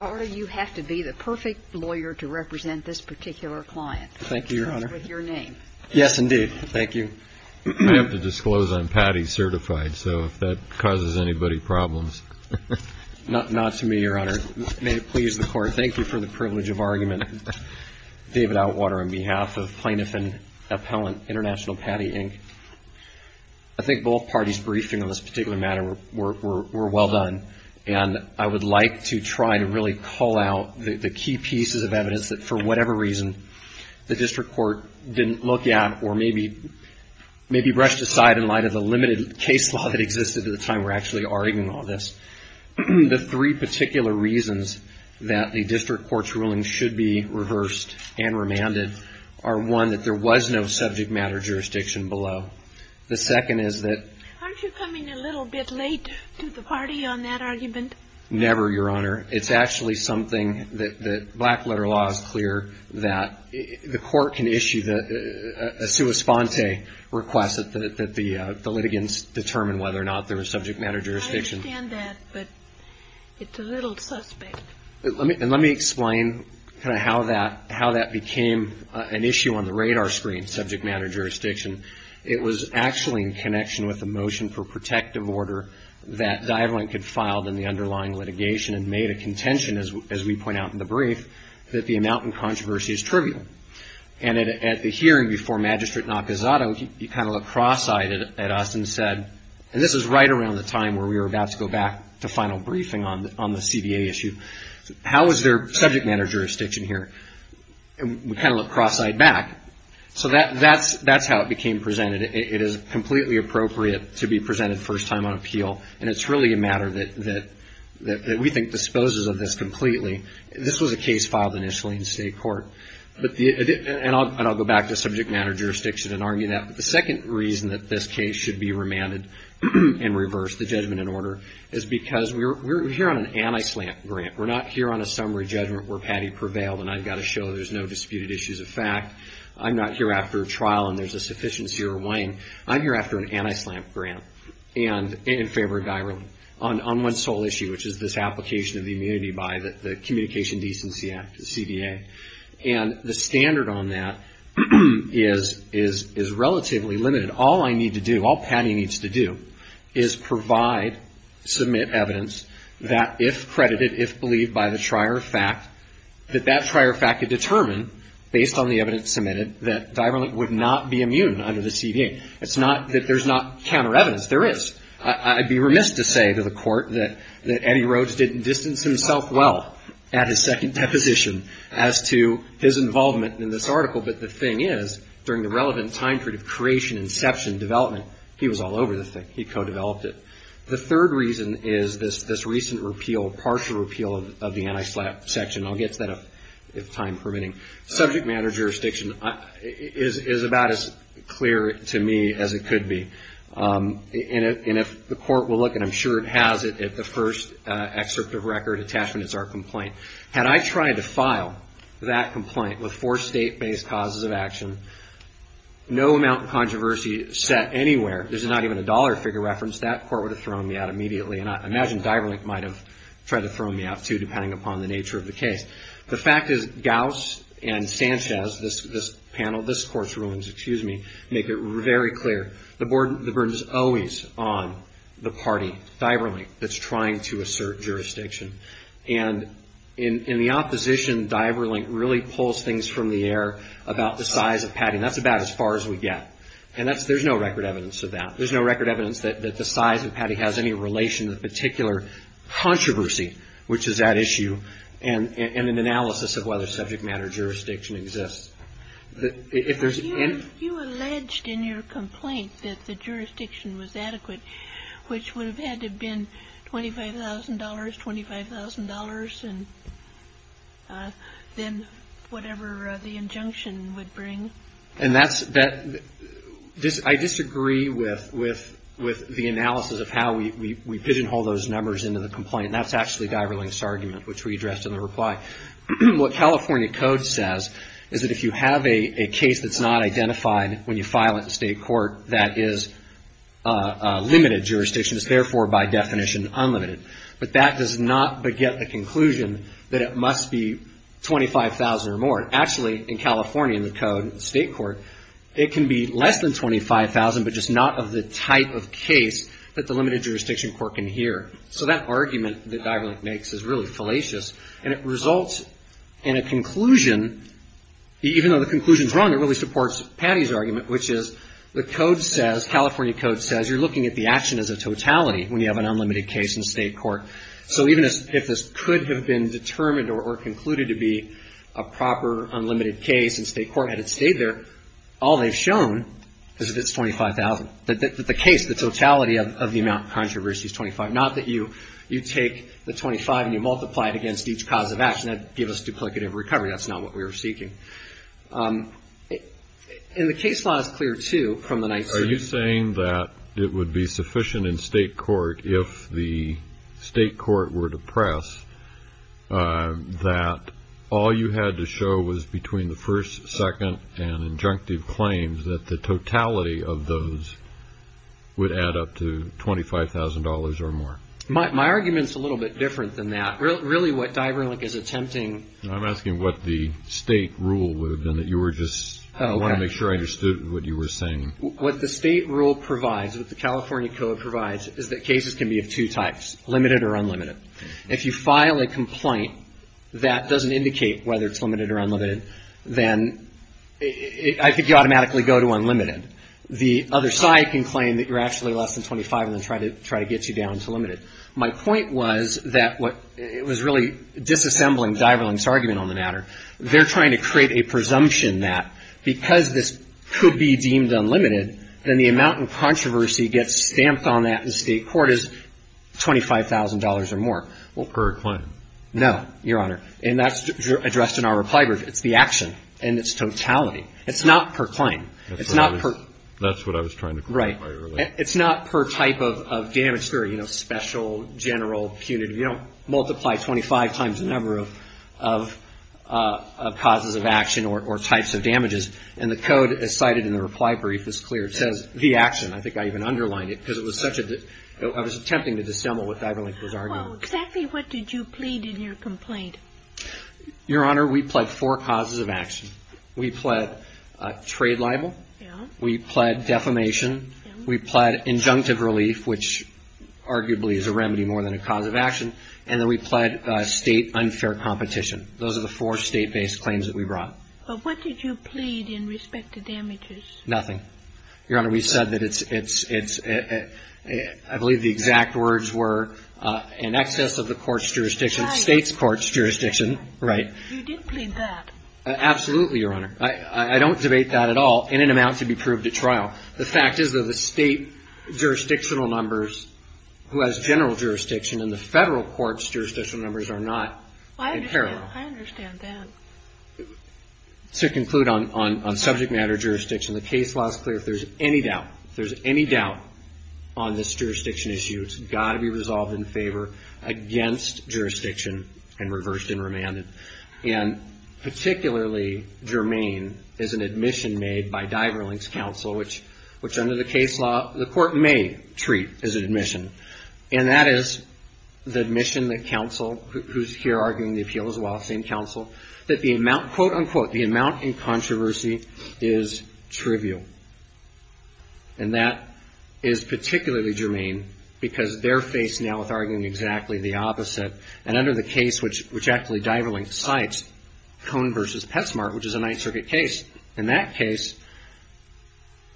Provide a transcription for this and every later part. Attorney, you have to be the perfect lawyer to represent this particular client. Thank you, Your Honor. With your name. Yes, indeed. Thank you. I have to disclose I'm Padi certified, so if that causes anybody problems. Not to me, Your Honor. May it please the Court, thank you for the privilege of argument, David Outwater on behalf of Plaintiff and Appellant, International Padi, Inc. I think both parties' briefing on this particular matter were well done, and I would like to try to really pull out the key pieces of evidence that, for whatever reason, the District Court didn't look at or maybe brushed aside in light of the limited case law that existed at the time we're actually arguing all this. The three particular reasons that the District Court's ruling should be reversed and remanded are one, that there was no subject matter jurisdiction below. The second is that. Aren't you coming a little bit late to the party on that argument? Never, Your Honor. It's actually something that black letter law is clear that the Court can issue a sua sponte request that the litigants determine whether or not there was subject matter jurisdiction. I understand that, but it's a little suspect. And let me explain kind of how that became an issue on the radar screen, subject matter jurisdiction. It was actually in connection with the motion for protective order that DiveLink had filed in the underlying litigation and made a contention, as we point out in the brief, that the amount in controversy is trivial. And at the hearing before Magistrate Nakazato, he kind of looked cross-eyed at us and said, and this is right around the time where we were about to go back to final briefing on the CDA issue, how is there subject matter jurisdiction here? And we kind of looked cross-eyed back. So that's how it became presented. It is completely appropriate to be presented first time on appeal, and it's really a matter that we think disposes of this completely. This was a case filed initially in state court, and I'll go back to subject matter jurisdiction and argue that. But the second reason that this case should be remanded and reversed, the judgment in order, is because we're here on an anti-SLAMP grant. We're not here on a summary judgment where Patty prevailed and I've got to show there's no disputed issues of fact. I'm not here after a trial and there's a sufficiency or waning. I'm here after an anti-SLAMP grant and in favor of diverlink on one sole issue, which is this application of the immunity by the Communication Decency Act, the CDA. And the standard on that is relatively limited. All I need to do, all Patty needs to do, is provide, submit evidence that if credited, if believed by the trier of fact, that that trier of fact could determine, based on the It's not that there's not counter evidence. There is. I'd be remiss to say to the court that Eddie Rhodes didn't distance himself well at his second deposition as to his involvement in this article. But the thing is, during the relevant time period of creation, inception, development, he was all over this thing. He co-developed it. The third reason is this recent repeal, partial repeal of the anti-SLAMP section. I'll get to that if time permitting. Subject matter jurisdiction is about as clear to me as it could be. And if the court will look, and I'm sure it has it, at the first excerpt of record attachment, it's our complaint. Had I tried to file that complaint with four state-based causes of action, no amount of controversy set anywhere, there's not even a dollar figure reference, that court would have thrown me out immediately. And I imagine diverlink might have tried to throw me out too, depending upon the nature of the case. The fact is, Gauss and Sanchez, this panel, this court's rulings, excuse me, make it very clear. The burden is always on the party, diverlink, that's trying to assert jurisdiction. And in the opposition, diverlink really pulls things from the air about the size of Patty. That's about as far as we get. And there's no record evidence of that. There's no record evidence that the size of Patty has any relation to the particular controversy which is at issue, and an analysis of whether subject matter jurisdiction exists. If there's any... You alleged in your complaint that the jurisdiction was adequate, which would have had to have been $25,000, $25,000, and then whatever the injunction would bring. And that's, I disagree with the analysis of how we pigeonhole those numbers into the complaint. That's actually diverlink's argument, which we addressed in the reply. What California code says is that if you have a case that's not identified when you file it in state court, that is limited jurisdiction, it's therefore by definition unlimited. But that does not get the conclusion that it must be $25,000 or more. Actually in California in the code, state court, it can be less than $25,000, but just not of the type of case that the limited jurisdiction court can hear. So that argument that diverlink makes is really fallacious, and it results in a conclusion. Even though the conclusion's wrong, it really supports Patty's argument, which is the code says, California code says, you're looking at the action as a totality when you have an unlimited case in state court. So even if this could have been determined or concluded to be a proper unlimited case and state court had it stayed there, all they've shown is that it's $25,000. The case, the totality of the amount of controversy is $25,000. Not that you take the $25,000 and you multiply it against each cause of action. That'd give us duplicative recovery. That's not what we were seeking. And the case law is clear, too, from the night's hearing. Are you saying that it would be sufficient in state court if the state court were to press that all you had to show was between the first, second, and injunctive claims that the totality of those would add up to $25,000 or more? My argument's a little bit different than that. Really what Diverlink is attempting – I'm asking what the state rule would have been that you were just – I want to make sure I understood what you were saying. What the state rule provides, what the California code provides, is that cases can be of two types, limited or unlimited. If you file a complaint that doesn't indicate whether it's limited or unlimited, then I think you automatically go to unlimited. The other side can claim that you're actually less than $25,000 and then try to get you down to limited. My point was that what – it was really disassembling Diverlink's argument on the matter. They're trying to create a presumption that because this could be deemed unlimited, then the amount in controversy gets stamped on that in state court as $25,000 or more. Well, per claim? No, Your Honor. And that's addressed in our reply brief. It's the action and its totality. It's not per claim. It's not per – That's what I was trying to clarify earlier. Right. It's not per type of damage theory, you know, special, general, punitive. You don't multiply 25 times the number of causes of action or types of damages. And the code as cited in the reply brief is clear. It says the action. I think I even underlined it because it was such a – I was attempting to dissemble what Diverlink was arguing. Well, exactly what did you plead in your complaint? Your Honor, we pled four causes of action. We pled trade libel. We pled defamation. We pled injunctive relief, which arguably is a remedy more than a cause of action. And then we pled state unfair competition. Those are the four state-based claims that we brought. Well, what did you plead in respect to damages? Nothing. Your Honor, we said that it's – I believe the exact words were in excess of the court's jurisdiction – state's court's jurisdiction. Right. You did plead that. Absolutely, Your Honor. I don't debate that at all in an amount to be proved at trial. The fact is that the state jurisdictional numbers, who has general jurisdiction, and the federal court's jurisdictional numbers are not in parallel. I understand that. To conclude on subject matter jurisdiction, the case law is clear. If there's any doubt, if there's any doubt on this jurisdiction issue, it's got to be resolved in favor against jurisdiction and reversed and remanded. And particularly germane is an admission made by Diverlink's counsel, which under the case law, the court may treat as an admission. And that is the admission that counsel, who's here arguing the appeal as well, same counsel, that the amount – quote, unquote – the amount in controversy is trivial. And that is particularly germane because they're faced now with arguing exactly the opposite. And under the case which actually Diverlink cites, Cohen v. Petsmart, which is a Ninth Circuit case, in that case,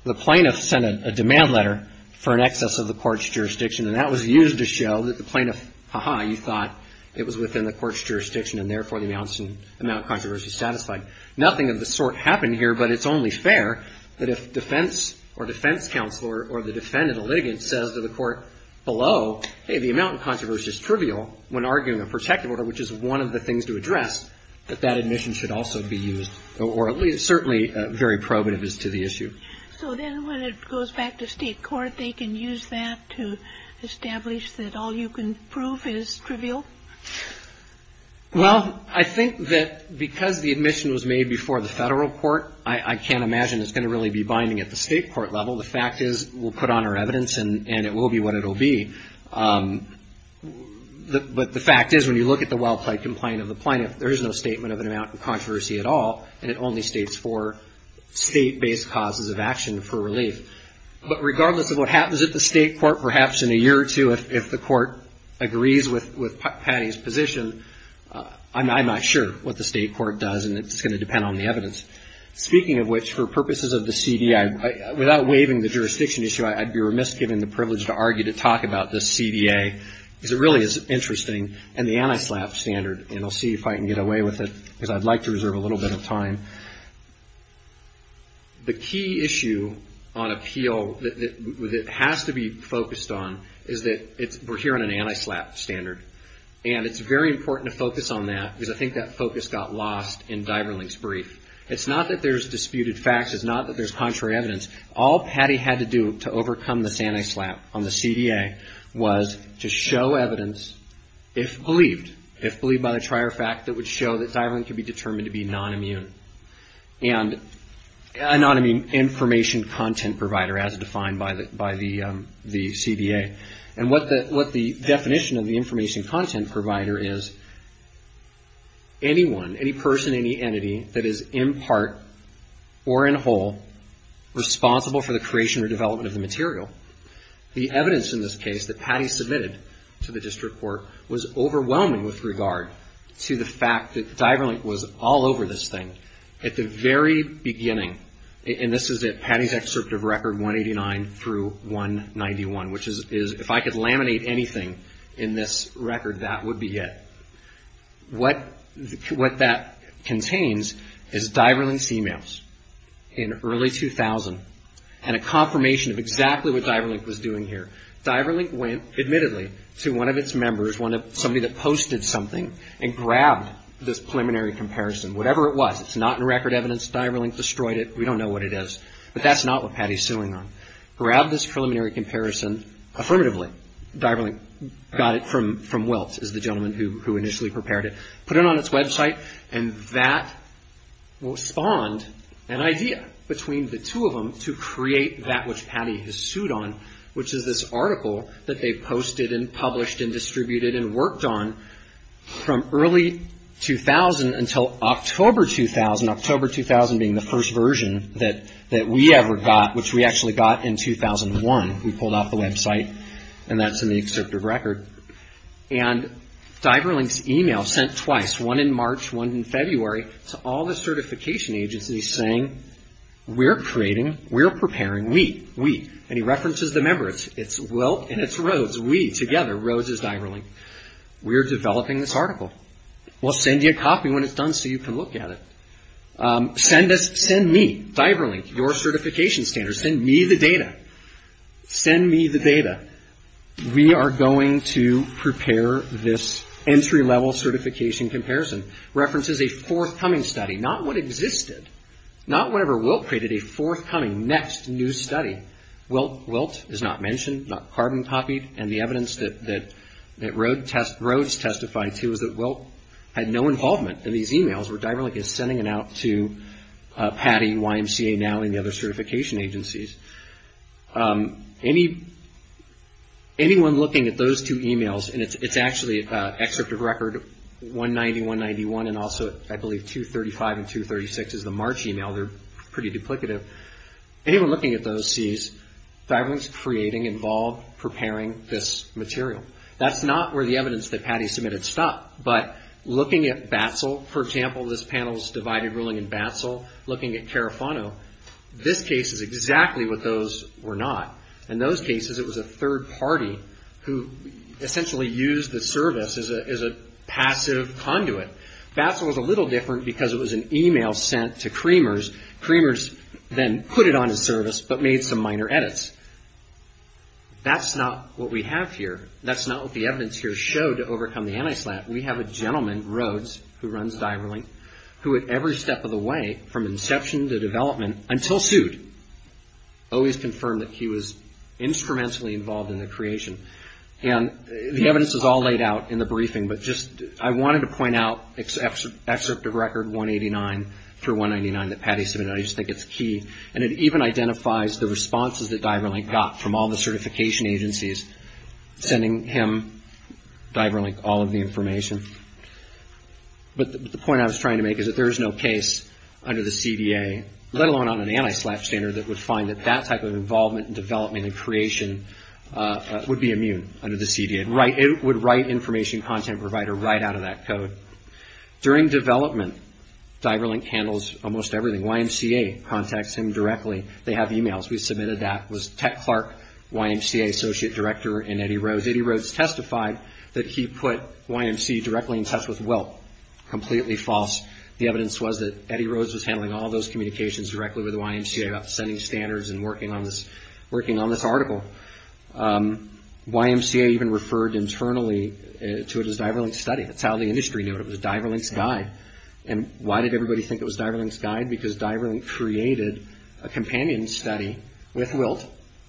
the plaintiff sent a demand letter for an excess of the court's jurisdiction. And that was used to show that the plaintiff, ha-ha, you thought it was within the court's jurisdiction and therefore the amount in controversy is satisfied. Nothing of the sort happened here, but it's only fair that if defense or defense counsel or the defendant or litigant says to the court below, hey, the amount in controversy is trivial, when arguing a protective order, which is one of the things to address, that that admission should also be used, or at least certainly very probative as to the issue. So then when it goes back to state court, they can use that to establish that all you can prove is trivial? Well, I think that because the admission was made before the federal court, I can't imagine it's going to really be binding at the state court level. The fact is, we'll put on our evidence and it will be what it will be. But the fact is, when you look at the well-plaid complaint of the plaintiff, there is no statement of an amount in controversy at all, and it only states four state-based causes of action for relief. But regardless of what happens at the state court, perhaps in a year or two, if the court agrees with Patty's position, I'm not sure what the state court does, and it's going to depend on the evidence. Speaking of which, for purposes of the CDI, without waiving the jurisdiction issue, I'd be remiss giving the privilege to argue to talk about the CDA, because it really is interesting, and the anti-SLAPP standard, and I'll see if I can get away with it, because I'd like to reserve a little bit of time. The key issue on appeal that has to be focused on is that we're hearing an anti-SLAPP standard, and it's very important to focus on that, because I think that focus got lost in Diverlink's brief. It's not that there's disputed facts. It's not that there's contrary evidence. All Patty had to do to overcome this anti-SLAPP on the CDA was to show evidence, if believed, if believed by the trier fact, that would show that Diverlink could be determined to be non-immune, and a non-immune information content provider, as defined by the CDA. And what the definition of the information content provider is, anyone, any person, any responsible for the creation or development of the material. The evidence in this case that Patty submitted to the district court was overwhelming with regard to the fact that Diverlink was all over this thing at the very beginning, and this is Patty's excerpt of record 189 through 191, which is, if I could laminate anything in this record, that would be it. What that contains is Diverlink's emails in early 2000, and a confirmation of exactly what Diverlink was doing here. Diverlink went, admittedly, to one of its members, somebody that posted something, and grabbed this preliminary comparison, whatever it was. It's not in record evidence. Diverlink destroyed it. We don't know what it is, but that's not what Patty's suing on. Grabbed this preliminary comparison. Affirmatively, Diverlink got it from Welts, is the gentleman who initially prepared it. Put it on its website, and that spawned an idea between the two of them to create that which Patty has sued on, which is this article that they posted and published and distributed and worked on from early 2000 until October 2000. October 2000 being the first version that we ever got, which we actually got in 2001. We pulled out the website, and that's in the excerpt of record. Diverlink's email sent twice, one in March, one in February, to all the certification agencies saying, we're creating, we're preparing, we, we, and he references the members. It's Welts and it's Rhodes, we, together, Rhodes is Diverlink. We're developing this article. We'll send you a copy when it's done so you can look at it. Send us, send me, Diverlink, your certification standards. Send me the data. Send me the data. We are going to prepare this entry-level certification comparison. References a forthcoming study, not what existed, not whenever Welts created a forthcoming next new study. Welts, Welts is not mentioned, not carbon copied, and the evidence that, that Rhodes testified to is that Welts had no involvement in these emails where Diverlink is sending it out to PADI, YMCA, NOW, and the other certification agencies. Anyone looking at those two emails, and it's actually excerpt of record 190, 191, and also I believe 235 and 236 is the March email, they're pretty duplicative. Anyone looking at those sees Diverlink's creating, involved, preparing this material. That's not where the evidence that PADI submitted stopped, but looking at BATSL, for example, this panel's divided ruling in BATSL, looking at Carafano, this case is exactly what those were not. In those cases, it was a third party who essentially used the service as a, as a passive conduit. BATSL was a little different because it was an email sent to Creamers, Creamers then put it on a service, but made some minor edits. That's not what we have here. That's not what the evidence here showed to overcome the anti-SLAT. We have a gentleman, Rhodes, who runs Diverlink, who at every step of the way, from inception to development, until sued, always confirmed that he was instrumentally involved in the creation. The evidence is all laid out in the briefing, but just, I wanted to point out, excerpt of record 189 through 199 that PADI submitted, I just think it's key, and it even identifies the responses that Diverlink got from all the certification agencies sending him, Diverlink, all of the information. But the point I was trying to make is that there is no case under the CDA, let alone on an anti-SLAT standard, that would find that that type of involvement and development and creation would be immune under the CDA. It would write information content provider right out of that code. During development, Diverlink handles almost everything. YMCA contacts him directly. They have emails. We submitted that. It was Tech Clark, YMCA Associate Director, and Eddie Rhodes. Eddie Rhodes testified that he put YMCA directly in touch with Wilt. Completely false. The evidence was that Eddie Rhodes was handling all those communications directly with YMCA about sending standards and working on this article. YMCA even referred internally to it as Diverlink's study. That's how the industry knew it. It was Diverlink's guide. Why did everybody think it was Diverlink's guide? Because Diverlink created a companion study with Wilt,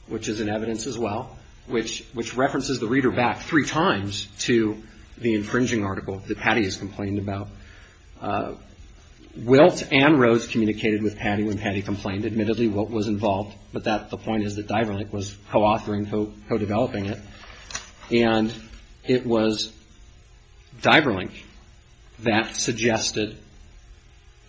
which is in evidence as well, which references the reader back three times to the infringing article that Patty has complained about. Wilt and Rhodes communicated with Patty when Patty complained. Admittedly, Wilt was involved, but the point is that Diverlink was co-authoring, co-developing it. It was Diverlink that suggested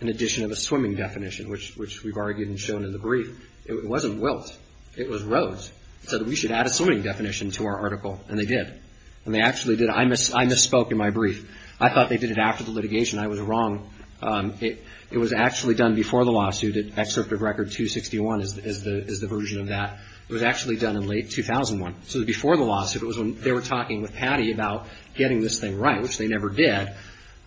an addition of a swimming definition, which we've argued and shown in the brief. It wasn't Wilt. It was Rhodes. He said, we should add a swimming definition to our article, and they did. I misspoke in my brief. I thought they did it after the litigation. I was wrong. It was actually done before the lawsuit. Excerpt of Record 261 is the version of that. It was actually done in late 2001. Before the lawsuit, it was when they were talking with Patty about getting this thing right, which they never did,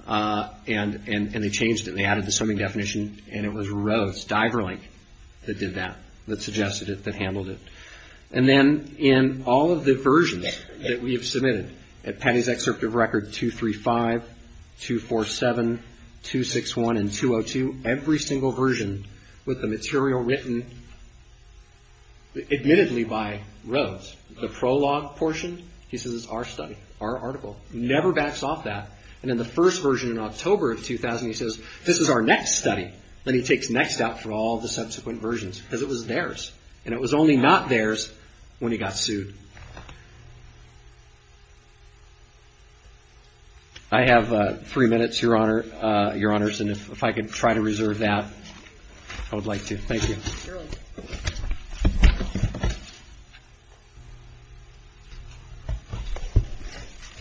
and they changed it. They added the swimming definition, and it was Rhodes, Diverlink, that did that, that suggested it, that handled it. And then, in all of the versions that we have submitted at Patty's Excerpt of Record 235, 247, 261, and 202, every single version with the material written, admittedly, by Rhodes. The prologue portion, he says, is our study, our article. Never backs off that. And in the first version in October of 2000, he says, this is our next study, then he takes next step for all the subsequent versions, because it was theirs, and it was only not theirs when he got sued. I have three minutes, Your Honors, and if I could try to reserve that, I would like to. Thank you.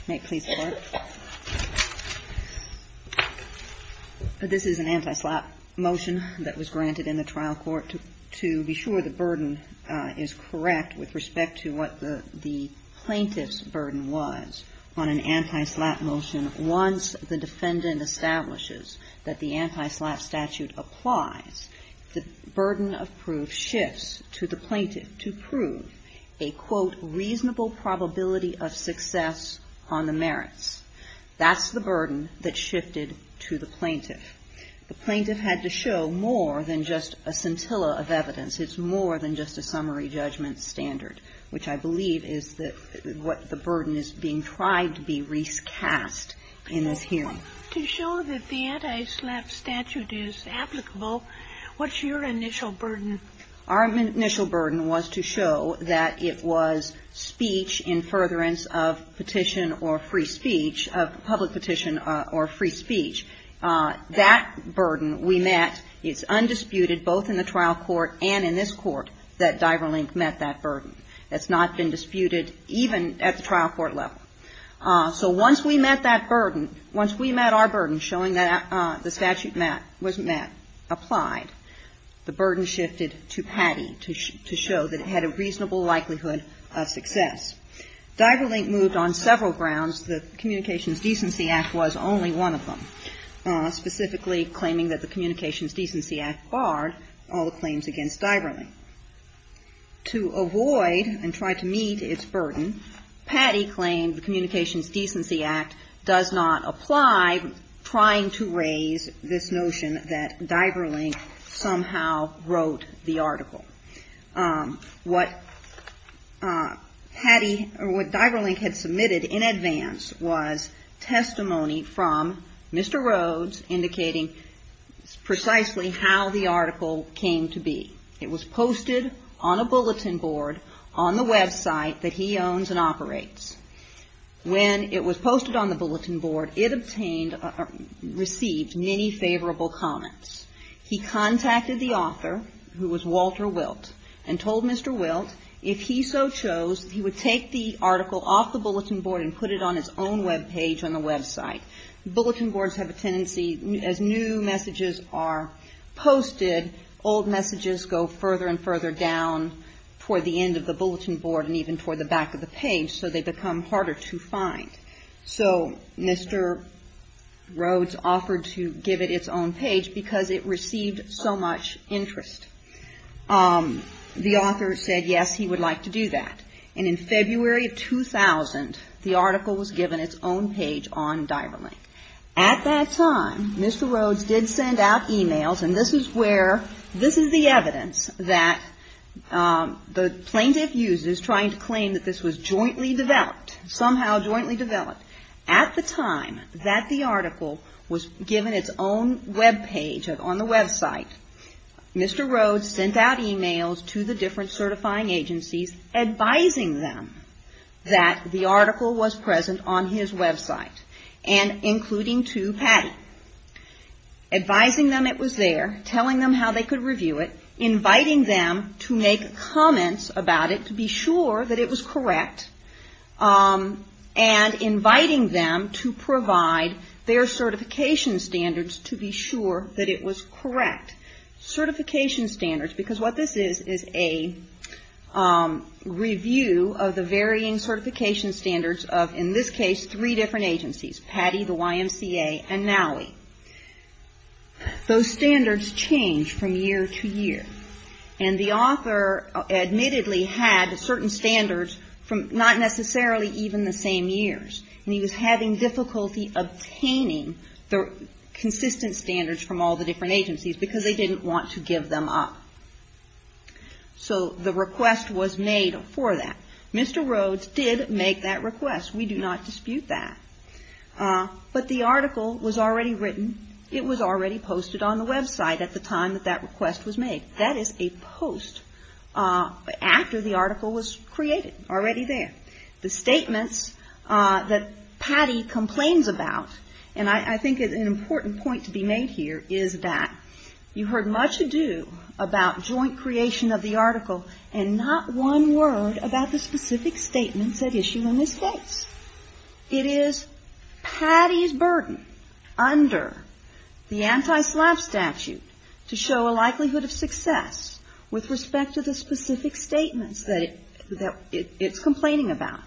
May it please the Court? This is an anti-SLAP motion that was granted in the trial court to be sure the burden is correct with respect to what the plaintiff's burden was on an anti-SLAP motion once the defendant establishes that the anti-SLAP statute applies. The burden of proof shifts to the plaintiff to prove a, quote, reasonable probability of success on the merits. That's the burden that shifted to the plaintiff. The plaintiff had to show more than just a scintilla of evidence. It's more than just a summary judgment standard, which I believe is what the burden is being tried to be recast in this hearing. To show that the anti-SLAP statute is applicable, what's your initial burden? Our initial burden was to show that it was speech in furtherance of petition or free speech, of public petition or free speech. That burden we met. It's undisputed, both in the trial court and in this court, that Diverlink met that burden. That's not been disputed even at the trial court level. So once we met that burden, once we met our burden showing that the statute was met, applied, the burden shifted to Patty to show that it had a reasonable likelihood of success. Diverlink moved on several grounds. The Communications Decency Act was only one of them, specifically claiming that the Communications Decency Act barred all the claims against Diverlink. To avoid and try to meet its burden, Patty claimed the Communications Decency Act does not apply, trying to raise this notion that Diverlink somehow wrote the article. What Patty or what Diverlink had submitted in advance was testimony from Mr. Rhodes indicating precisely how the article came to be. It was posted on a bulletin board on the website that he owns and operates. When it was posted on the bulletin board, it obtained or received many favorable comments. He contacted the author, who was Walter Wilt, and told Mr. Wilt if he so chose, he would take the article off the bulletin board and put it on his own web page on the website. Bulletin boards have a tendency, as new messages are posted, old messages go further and further down toward the end of the bulletin board and even toward the back of the page, so they become harder to find. So Mr. Rhodes offered to give it its own page because it received so much interest. The author said, yes, he would like to do that. And in February of 2000, the article was given its own page on Diverlink. At that time, Mr. Rhodes did send out emails, and this is where, this is the evidence that the plaintiff uses trying to claim that this was jointly developed, somehow jointly developed. At the time that the article was given its own web page on the website, Mr. Rhodes sent out emails to the different certifying agencies advising them that the article was present on his website, and including to Patty, advising them it was there, telling them how they could review it, inviting them to make comments about it to be sure that it was correct, and inviting them to provide their certification standards to be sure that it was correct. Certification standards, because what this is, is a review of the varying certification standards of, in this case, three different agencies, Patty, the YMCA, and Nowey. Those standards change from year to year, and the author admittedly had certain standards from not necessarily even the same years, and he was having difficulty obtaining the consistent standards from all the different agencies because they didn't want to give them up. So the request was made for that. Mr. Rhodes did make that request. We do not dispute that, but the article was already written. It was already posted on the website at the time that that request was made. That is a post after the article was created, already there. The statements that Patty complains about, and I think an important point to be made here, is that you heard much ado about joint creation of the article and not one word about the specific statements at issue in this case. It is Patty's burden under the anti-SLAP statute to show a likelihood of success with respect to the specific statements that it's complaining about.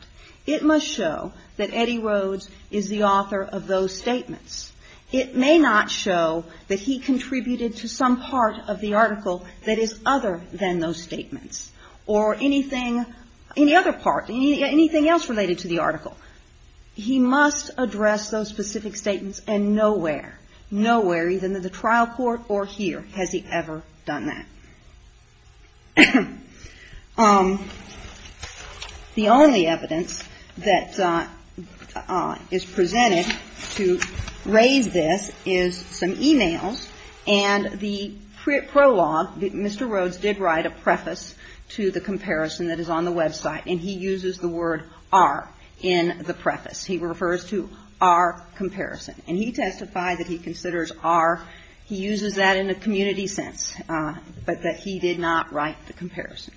It must show that Eddie Rhodes is the author of those statements. It may not show that he contributed to some part of the article that is other than those statements or anything, any other part, anything else related to the article. He must address those specific statements, and nowhere, nowhere, either in the trial court or here, has he ever done that. The only evidence that is presented to raise this is some e-mails, and the prologue. Mr. Rhodes did write a preface to the comparison that is on the website, and he uses the word are in the preface. He refers to our comparison. And he testified that he considers our, he uses that in a community sense, but that he did not write the comparison.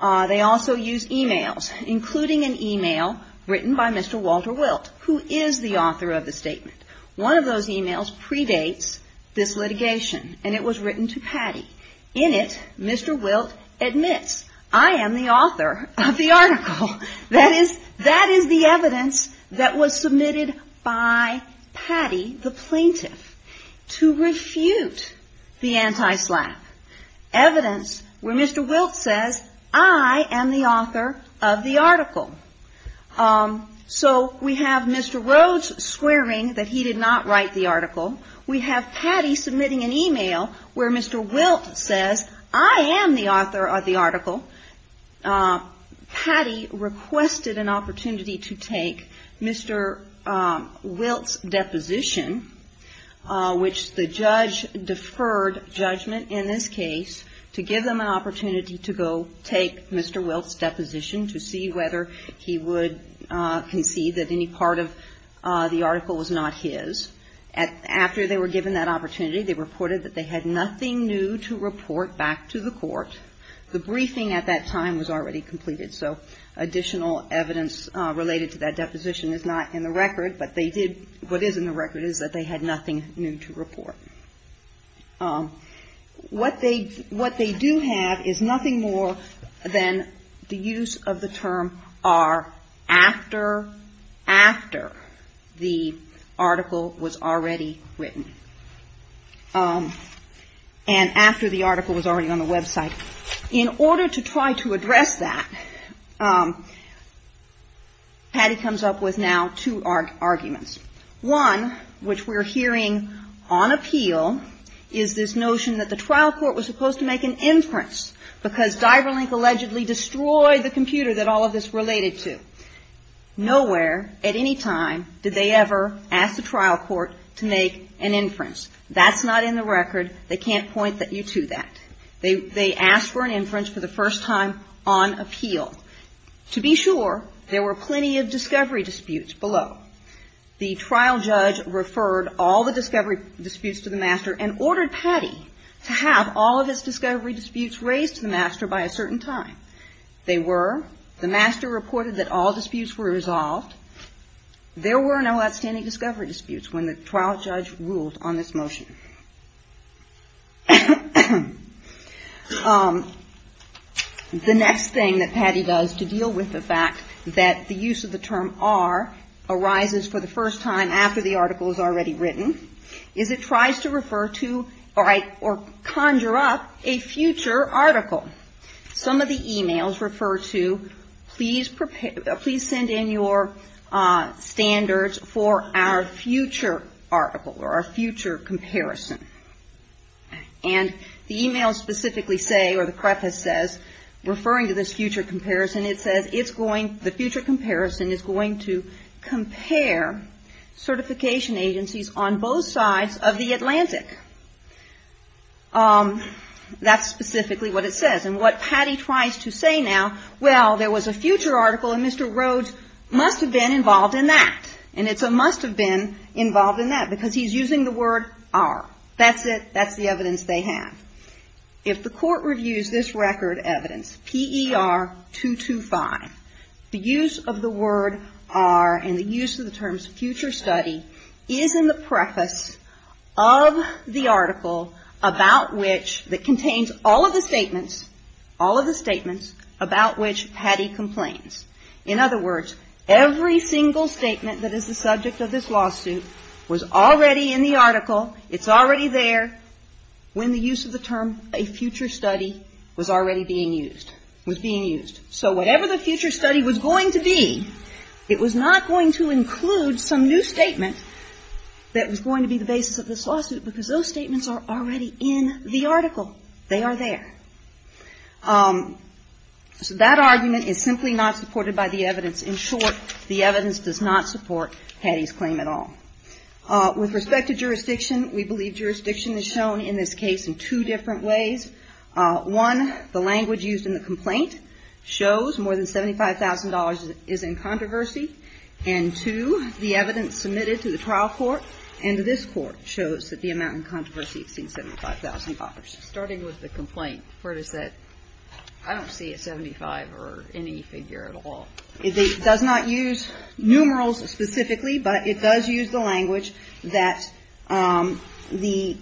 They also use e-mails, including an e-mail written by Mr. Walter Wilt, who is the author of the statement. One of those e-mails predates this litigation, and it was written to Patty. In it, Mr. Wilt admits, I am the author of the article. That is the evidence that was submitted by Patty, the plaintiff, to refute the anti-SLAPP, evidence where Mr. Wilt says, I am the author of the article. So we have Mr. Rhodes swearing that he did not write the article. We have Patty submitting an e-mail where Mr. Wilt says, I am the author of the article. Patty requested an opportunity to take Mr. Wilt's deposition, which the So she requested a judgment in this case to give them an opportunity to go take Mr. Wilt's deposition to see whether he would concede that any part of the article was not his. After they were given that opportunity, they reported that they had nothing new to report back to the court. The briefing at that time was already completed. So additional evidence related to that deposition is not in the record, but they did, what is in the record is that they had nothing new to report. What they, what they do have is nothing more than the use of the term are after, after the article was already written. And after the article was already on the website. In order to try to address that, Patty comes up with now two arguments. One, which we're hearing on appeal, is this notion that the trial court was supposed to make an inference because Diverlink allegedly destroyed the computer that all of this related to. Nowhere at any time did they ever ask the trial court to make an inference. That's not in the record. They can't point you to that. They asked for an inference for the first time on appeal. To be sure, there were plenty of discovery disputes below. The trial judge referred all the discovery disputes to the master and ordered Patty to have all of his discovery disputes raised to the master by a certain time. They were. The master reported that all disputes were resolved. There were no outstanding discovery disputes when the trial judge ruled on this motion. The next thing that Patty does to deal with the fact that the use of the term are arises for the first time after the article is already written is it tries to refer to or conjure up a future article. Some of the emails refer to please send in your standards for our future article or our future comparison. And the emails specifically say or the preface says, referring to this future comparison, it says the future comparison is going to compare certification agencies on both sides of the Atlantic. That's specifically what it says. And what Patty tries to say now, well, there was a future article and Mr. Rhodes must have been involved in that. And it's a must have been involved in that because he's using the word are. That's it. That's the evidence they have. If the court reviews this record evidence, PER 225, the use of the word are and the use of the terms future study is in the preface of the article about which that contains all of the statements, all of the statements about which Patty complains. In other words, every single statement that is the subject of this lawsuit was already in the article. It's already there when the use of the term a future study was already being used, was being used. So whatever the future study was going to be, it was not going to include some new statement that was going to be the basis of this lawsuit because those statements are already in the article. They are there. So that argument is simply not supported by the evidence. In short, the evidence does not support Patty's claim at all. With respect to jurisdiction, we believe jurisdiction is shown in this case in two different ways. One, the language used in the complaint shows more than $75,000 is in controversy and two, the evidence submitted to the trial court and to this court shows that the amount in controversy exceeds $75,000. Starting with the complaint, where does that, I don't see a 75 or any figure at all. It does not use numerals specifically, but it does use the language that the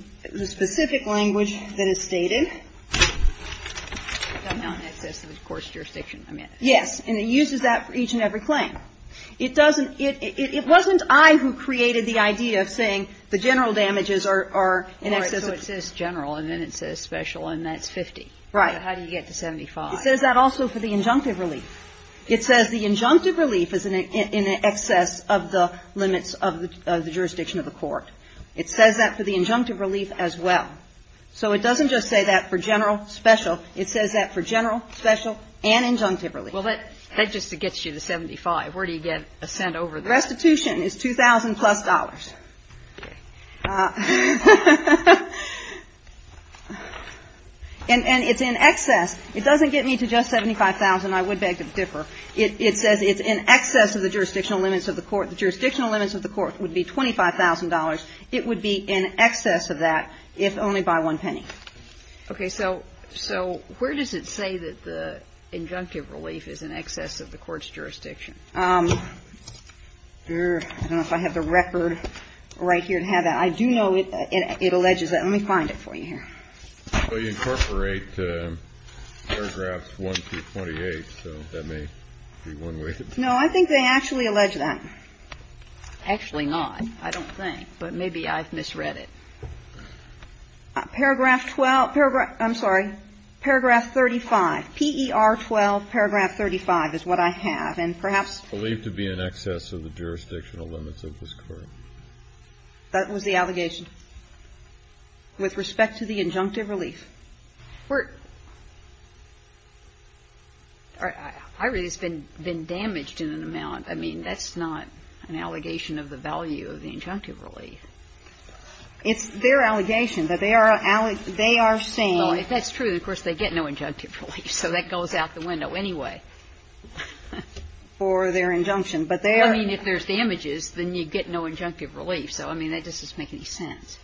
specific language that is stated. I'm not in excess of the court's jurisdiction. Yes. And it uses that for each and every claim. It doesn't, it wasn't I who created the idea of saying the general damages are in excess of this general and then it says special and that's 50. Right. How do you get to 75? It says that also for the injunctive relief. It says the injunctive relief is in excess of the limits of the jurisdiction of the court. It says that for the injunctive relief as well. So it doesn't just say that for general, special. It says that for general, special and injunctive relief. Well, that just gets you to 75. Where do you get a cent over there? Restitution is $2,000-plus. And it's in excess. It doesn't get me to just $75,000. I would beg to differ. It says it's in excess of the jurisdictional limits of the court. The jurisdictional limits of the court would be $25,000. It would be in excess of that if only by one penny. Okay. So where does it say that the injunctive relief is in excess of the court's jurisdiction? I don't know if I have the record right here to have that. I do know it alleges that. Let me find it for you here. Well, you incorporate paragraphs 1 through 28, so that may be one way. No, I think they actually allege that. Actually not. I don't think. But maybe I've misread it. Paragraph 12 – I'm sorry. Paragraph 35. P.E.R. 12, paragraph 35 is what I have. And perhaps – Believed to be in excess of the jurisdictional limits of this court. That was the allegation? With respect to the injunctive relief? I believe it's been damaged in an amount. I mean, that's not an allegation of the value of the injunctive relief. It's their allegation that they are saying – Well, if that's true, of course, they get no injunctive relief. So that goes out the window anyway. For their injunction. But their – I mean, if there's damages, then you get no injunctive relief. So, I mean, that doesn't make any sense.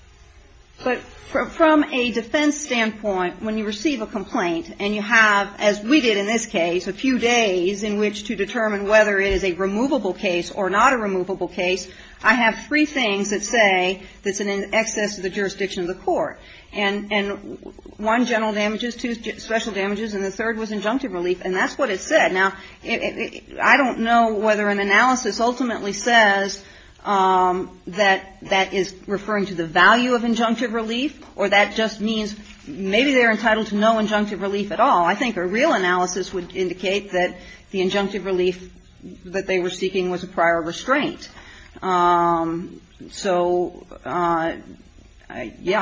But from a defense standpoint, when you receive a complaint and you have, as we did in this case, a few days in which to determine whether it is a removable case or not a removable case, I have three things that say that's in excess of the jurisdiction of the court. And one, general damages. Two, special damages. And the third was injunctive relief. And that's what it said. Now, I don't know whether an analysis ultimately says that that is referring to the value of injunctive relief or that just means maybe they're entitled to no injunctive relief at all. I think a real analysis would indicate that the injunctive relief that they were seeking was a prior restraint. So, yeah,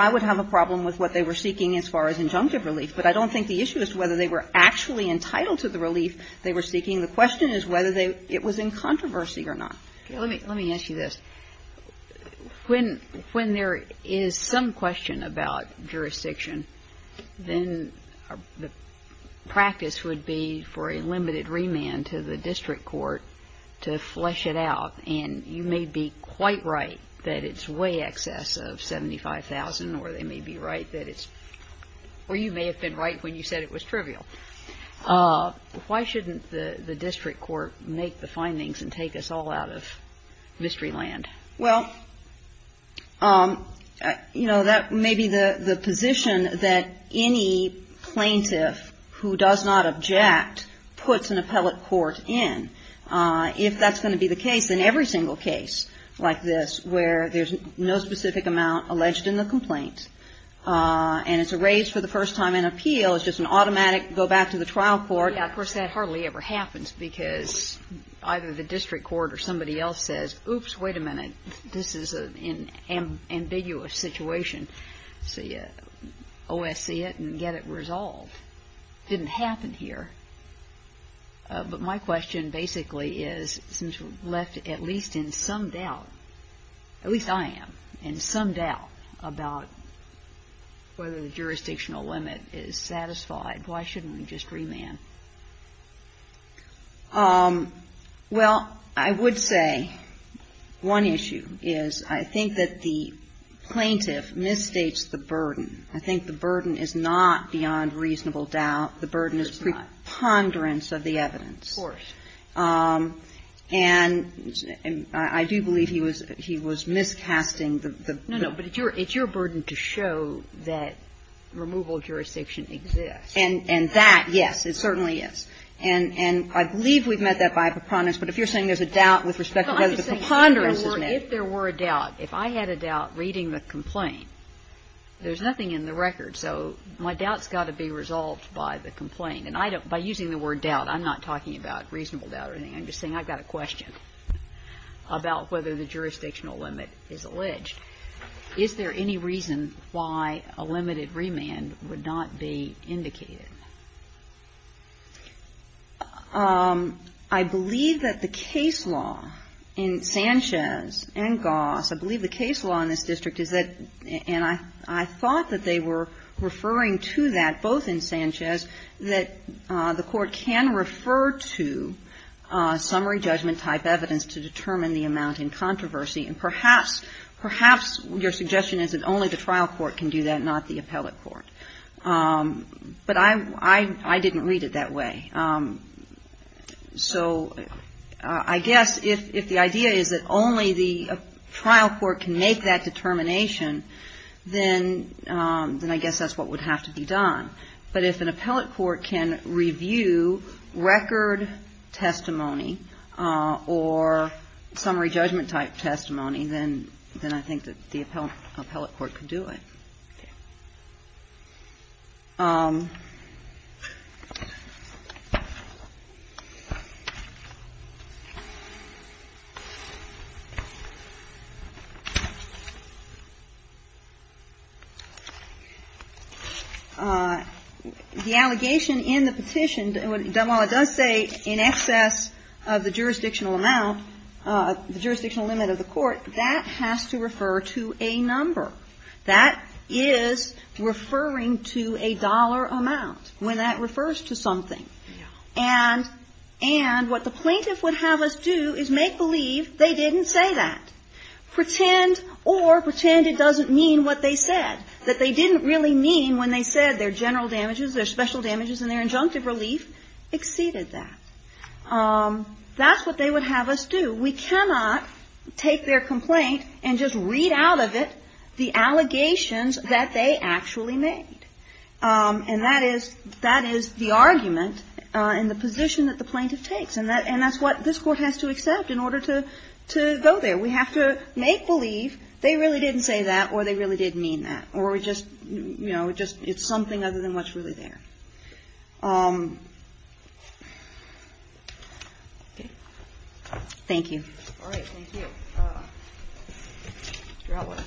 I would have a problem with what they were seeking as far as injunctive relief. But I don't think the issue is whether they were actually entitled to the relief they were seeking. The question is whether it was in controversy or not. Let me ask you this. When there is some question about jurisdiction, then the practice would be for a limited remand to the district court to flesh it out. And you may be quite right that it's way excess of $75,000 or they may be right that it's or you may have been right when you said it was trivial. Why shouldn't the district court make the findings and take us all out of mystery land? Well, you know, that may be the position that any plaintiff who does not object puts an appellate court in. If that's going to be the case, then every single case like this where there's no specific amount alleged in the complaint and it's a raise for the first time in appeal, it's just an automatic go back to the trial court. Yeah, of course, that hardly ever happens because either the district court or somebody else says, oops, wait a minute, this is an ambiguous situation. So you OSC it and get it resolved. It didn't happen here. But my question basically is since we're left at least in some doubt, at least I am, in some doubt about whether the jurisdictional limit is satisfied, why shouldn't we just remand? Well, I would say one issue is I think that the plaintiff misstates the burden. I think the burden is not beyond reasonable doubt. The burden is preponderance of the evidence. Of course. And I do believe he was he was miscasting the no, no, but it's your it's your burden to show that removal of jurisdiction exists. And that, yes, it certainly is. And I believe we've met that by preponderance, but if you're saying there's a doubt with respect to whether the preponderance is met. If there were a doubt, if I had a doubt reading the complaint, there's nothing in the record, so my doubt's got to be resolved by the complaint. And I don't, by using the word doubt, I'm not talking about reasonable doubt or anything. I'm just saying I've got a question about whether the jurisdictional limit is alleged. Is there any reason why a limited remand would not be indicated? I believe that the case law in Sanchez and Goss, I believe the case law in this district is that, and I thought that they were referring to that, both in Sanchez, that the court can refer to summary judgment type evidence to determine the amount in controversy. And perhaps, perhaps your suggestion is that only the trial court can do that, not the appellate court. But I didn't read it that way. So I guess if the idea is that only the trial court can make that determination, then I guess that's what would have to be done. But if an appellate court can review record testimony or summary judgment type testimony, then I think that the appellate court could do it. The allegation in the petition, while it does say in excess of the jurisdictional amount, the jurisdictional limit of the court, that has to refer to a number. That is referring to a dollar amount, when that refers to something. And what the plaintiff would have us do is make believe they didn't say that. Pretend or pretend it doesn't mean what they said, that they didn't really mean when they said their general damages, their special damages, and their injunctive relief exceeded that. That's what they would have us do. We cannot take their complaint and just read out of it the allegations that they actually made. And that is the argument and the position that the plaintiff takes. And that's what this Court has to accept in order to go there. We have to make believe they really didn't say that or they really didn't mean that. Or just, you know, just it's something other than what's really there. Thank you. All right. Thank you. Your outline.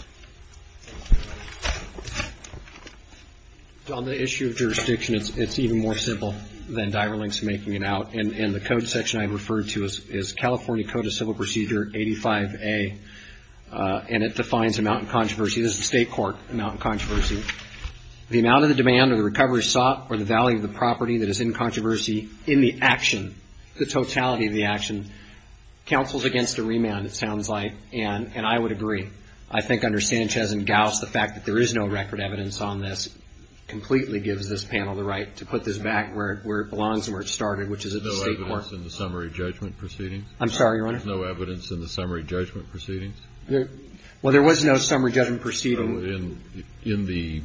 On the issue of jurisdiction, it's even more simple than Diverlink's making it out. And the code section I referred to is California Code of Civil Procedure 85A, and it defines amount of controversy. This is the State Court amount of controversy. The amount of the demand or the recovery sought or the value of the property that is in controversy in the action, the totality of the action, counsels against a remand, it sounds like. And I would agree. I think under Sanchez and Gauss, the fact that there is no record evidence on this completely gives this panel the right to put this back where it belongs and where it started, which is at the State Court. There's no evidence in the summary judgment proceedings? I'm sorry, Your Honor? There's no evidence in the summary judgment proceedings? Well, there was no summary judgment proceeding. In the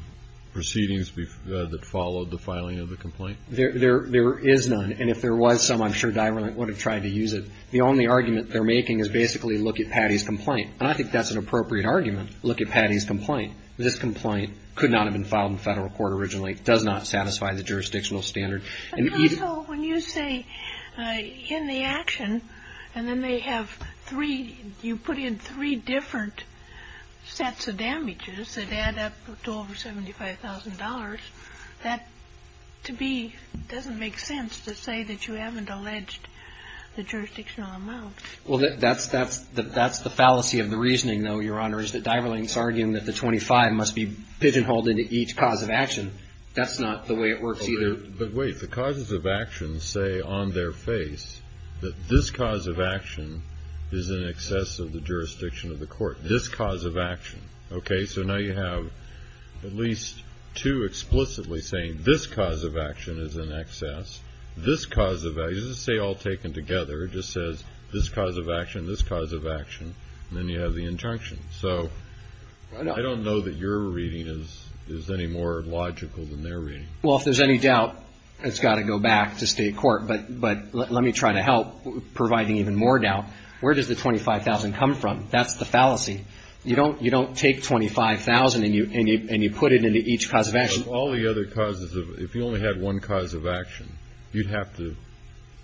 proceedings that followed the filing of the complaint? There is none. And if there was some, I'm sure Diverlink would have tried to use it. The only argument they're making is basically look at Patty's complaint. And I think that's an appropriate argument, look at Patty's complaint. This complaint could not have been filed in federal court originally. It does not satisfy the jurisdictional standard. And also, when you say in the action, and then they have three, you put in three different sets of damages that add up to over $75,000, that to me doesn't make sense to say that you haven't alleged the jurisdictional amount. Well, that's the fallacy of the reasoning, though, Your Honor, is that Diverlink's arguing that the 25 must be pigeonholed into each cause of action. That's not the way it works either. But wait, the causes of action say on their face that this cause of action is in excess of the jurisdiction of the court, this cause of action. Okay, so now you have at least two explicitly saying this cause of action is in excess. This cause of action, it doesn't say all taken together. It just says this cause of action, this cause of action, and then you have the injunction. So I don't know that your reading is any more logical than their reading. Well, if there's any doubt, it's got to go back to state court. But let me try to help providing even more doubt. Where does the 25,000 come from? That's the fallacy. You don't take 25,000 and you put it into each cause of action. Of all the other causes, if you only had one cause of action, you'd have to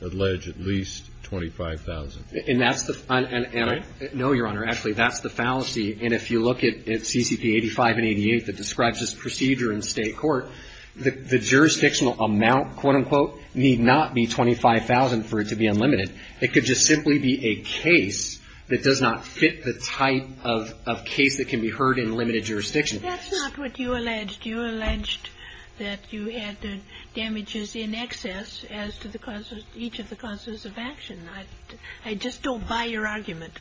allege at least 25,000. And that's the, and I know, Your Honor, actually, that's the fallacy. And if you look at CCP 85 and 88 that describes this procedure in state court, the jurisdictional amount, quote, unquote, need not be 25,000 for it to be unlimited. It could just simply be a case that does not fit the type of case that can be heard in limited jurisdiction. That's not what you alleged. You alleged that you had the damages in excess as to the causes, each of the causes of action. I just don't buy your argument.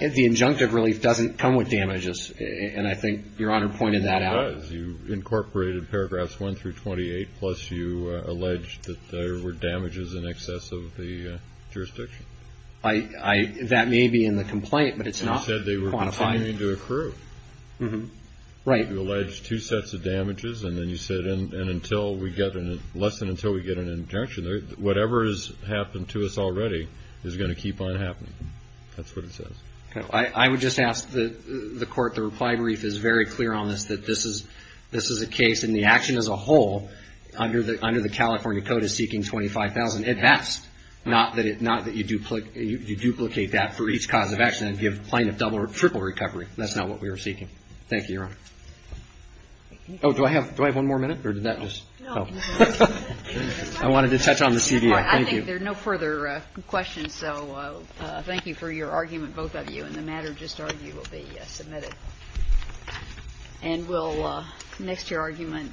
The injunctive relief doesn't come with damages. And I think Your Honor pointed that out. It does. You incorporated paragraphs 1 through 28, plus you alleged that there were damages in excess of the jurisdiction. That may be in the complaint, but it's not quantified. You said they were continuing to accrue. Right. You alleged two sets of damages, and then you said, and until we get, less than until we get an injunction, whatever has happened to us already is going to keep on happening. That's what it says. I would just ask the Court, the reply brief is very clear on this, that this is a case and the action as a whole under the California Code is seeking 25,000 at best, not that you duplicate that for each cause of action and give plaintiff double or triple recovery. That's not what we were seeking. Thank you, Your Honor. Oh, do I have one more minute, or did that just? No. I wanted to touch on the CBO. Thank you. There are no further questions, so thank you for your argument, both of you. And the matter just argued will be submitted. And we'll next your argument. Thank you.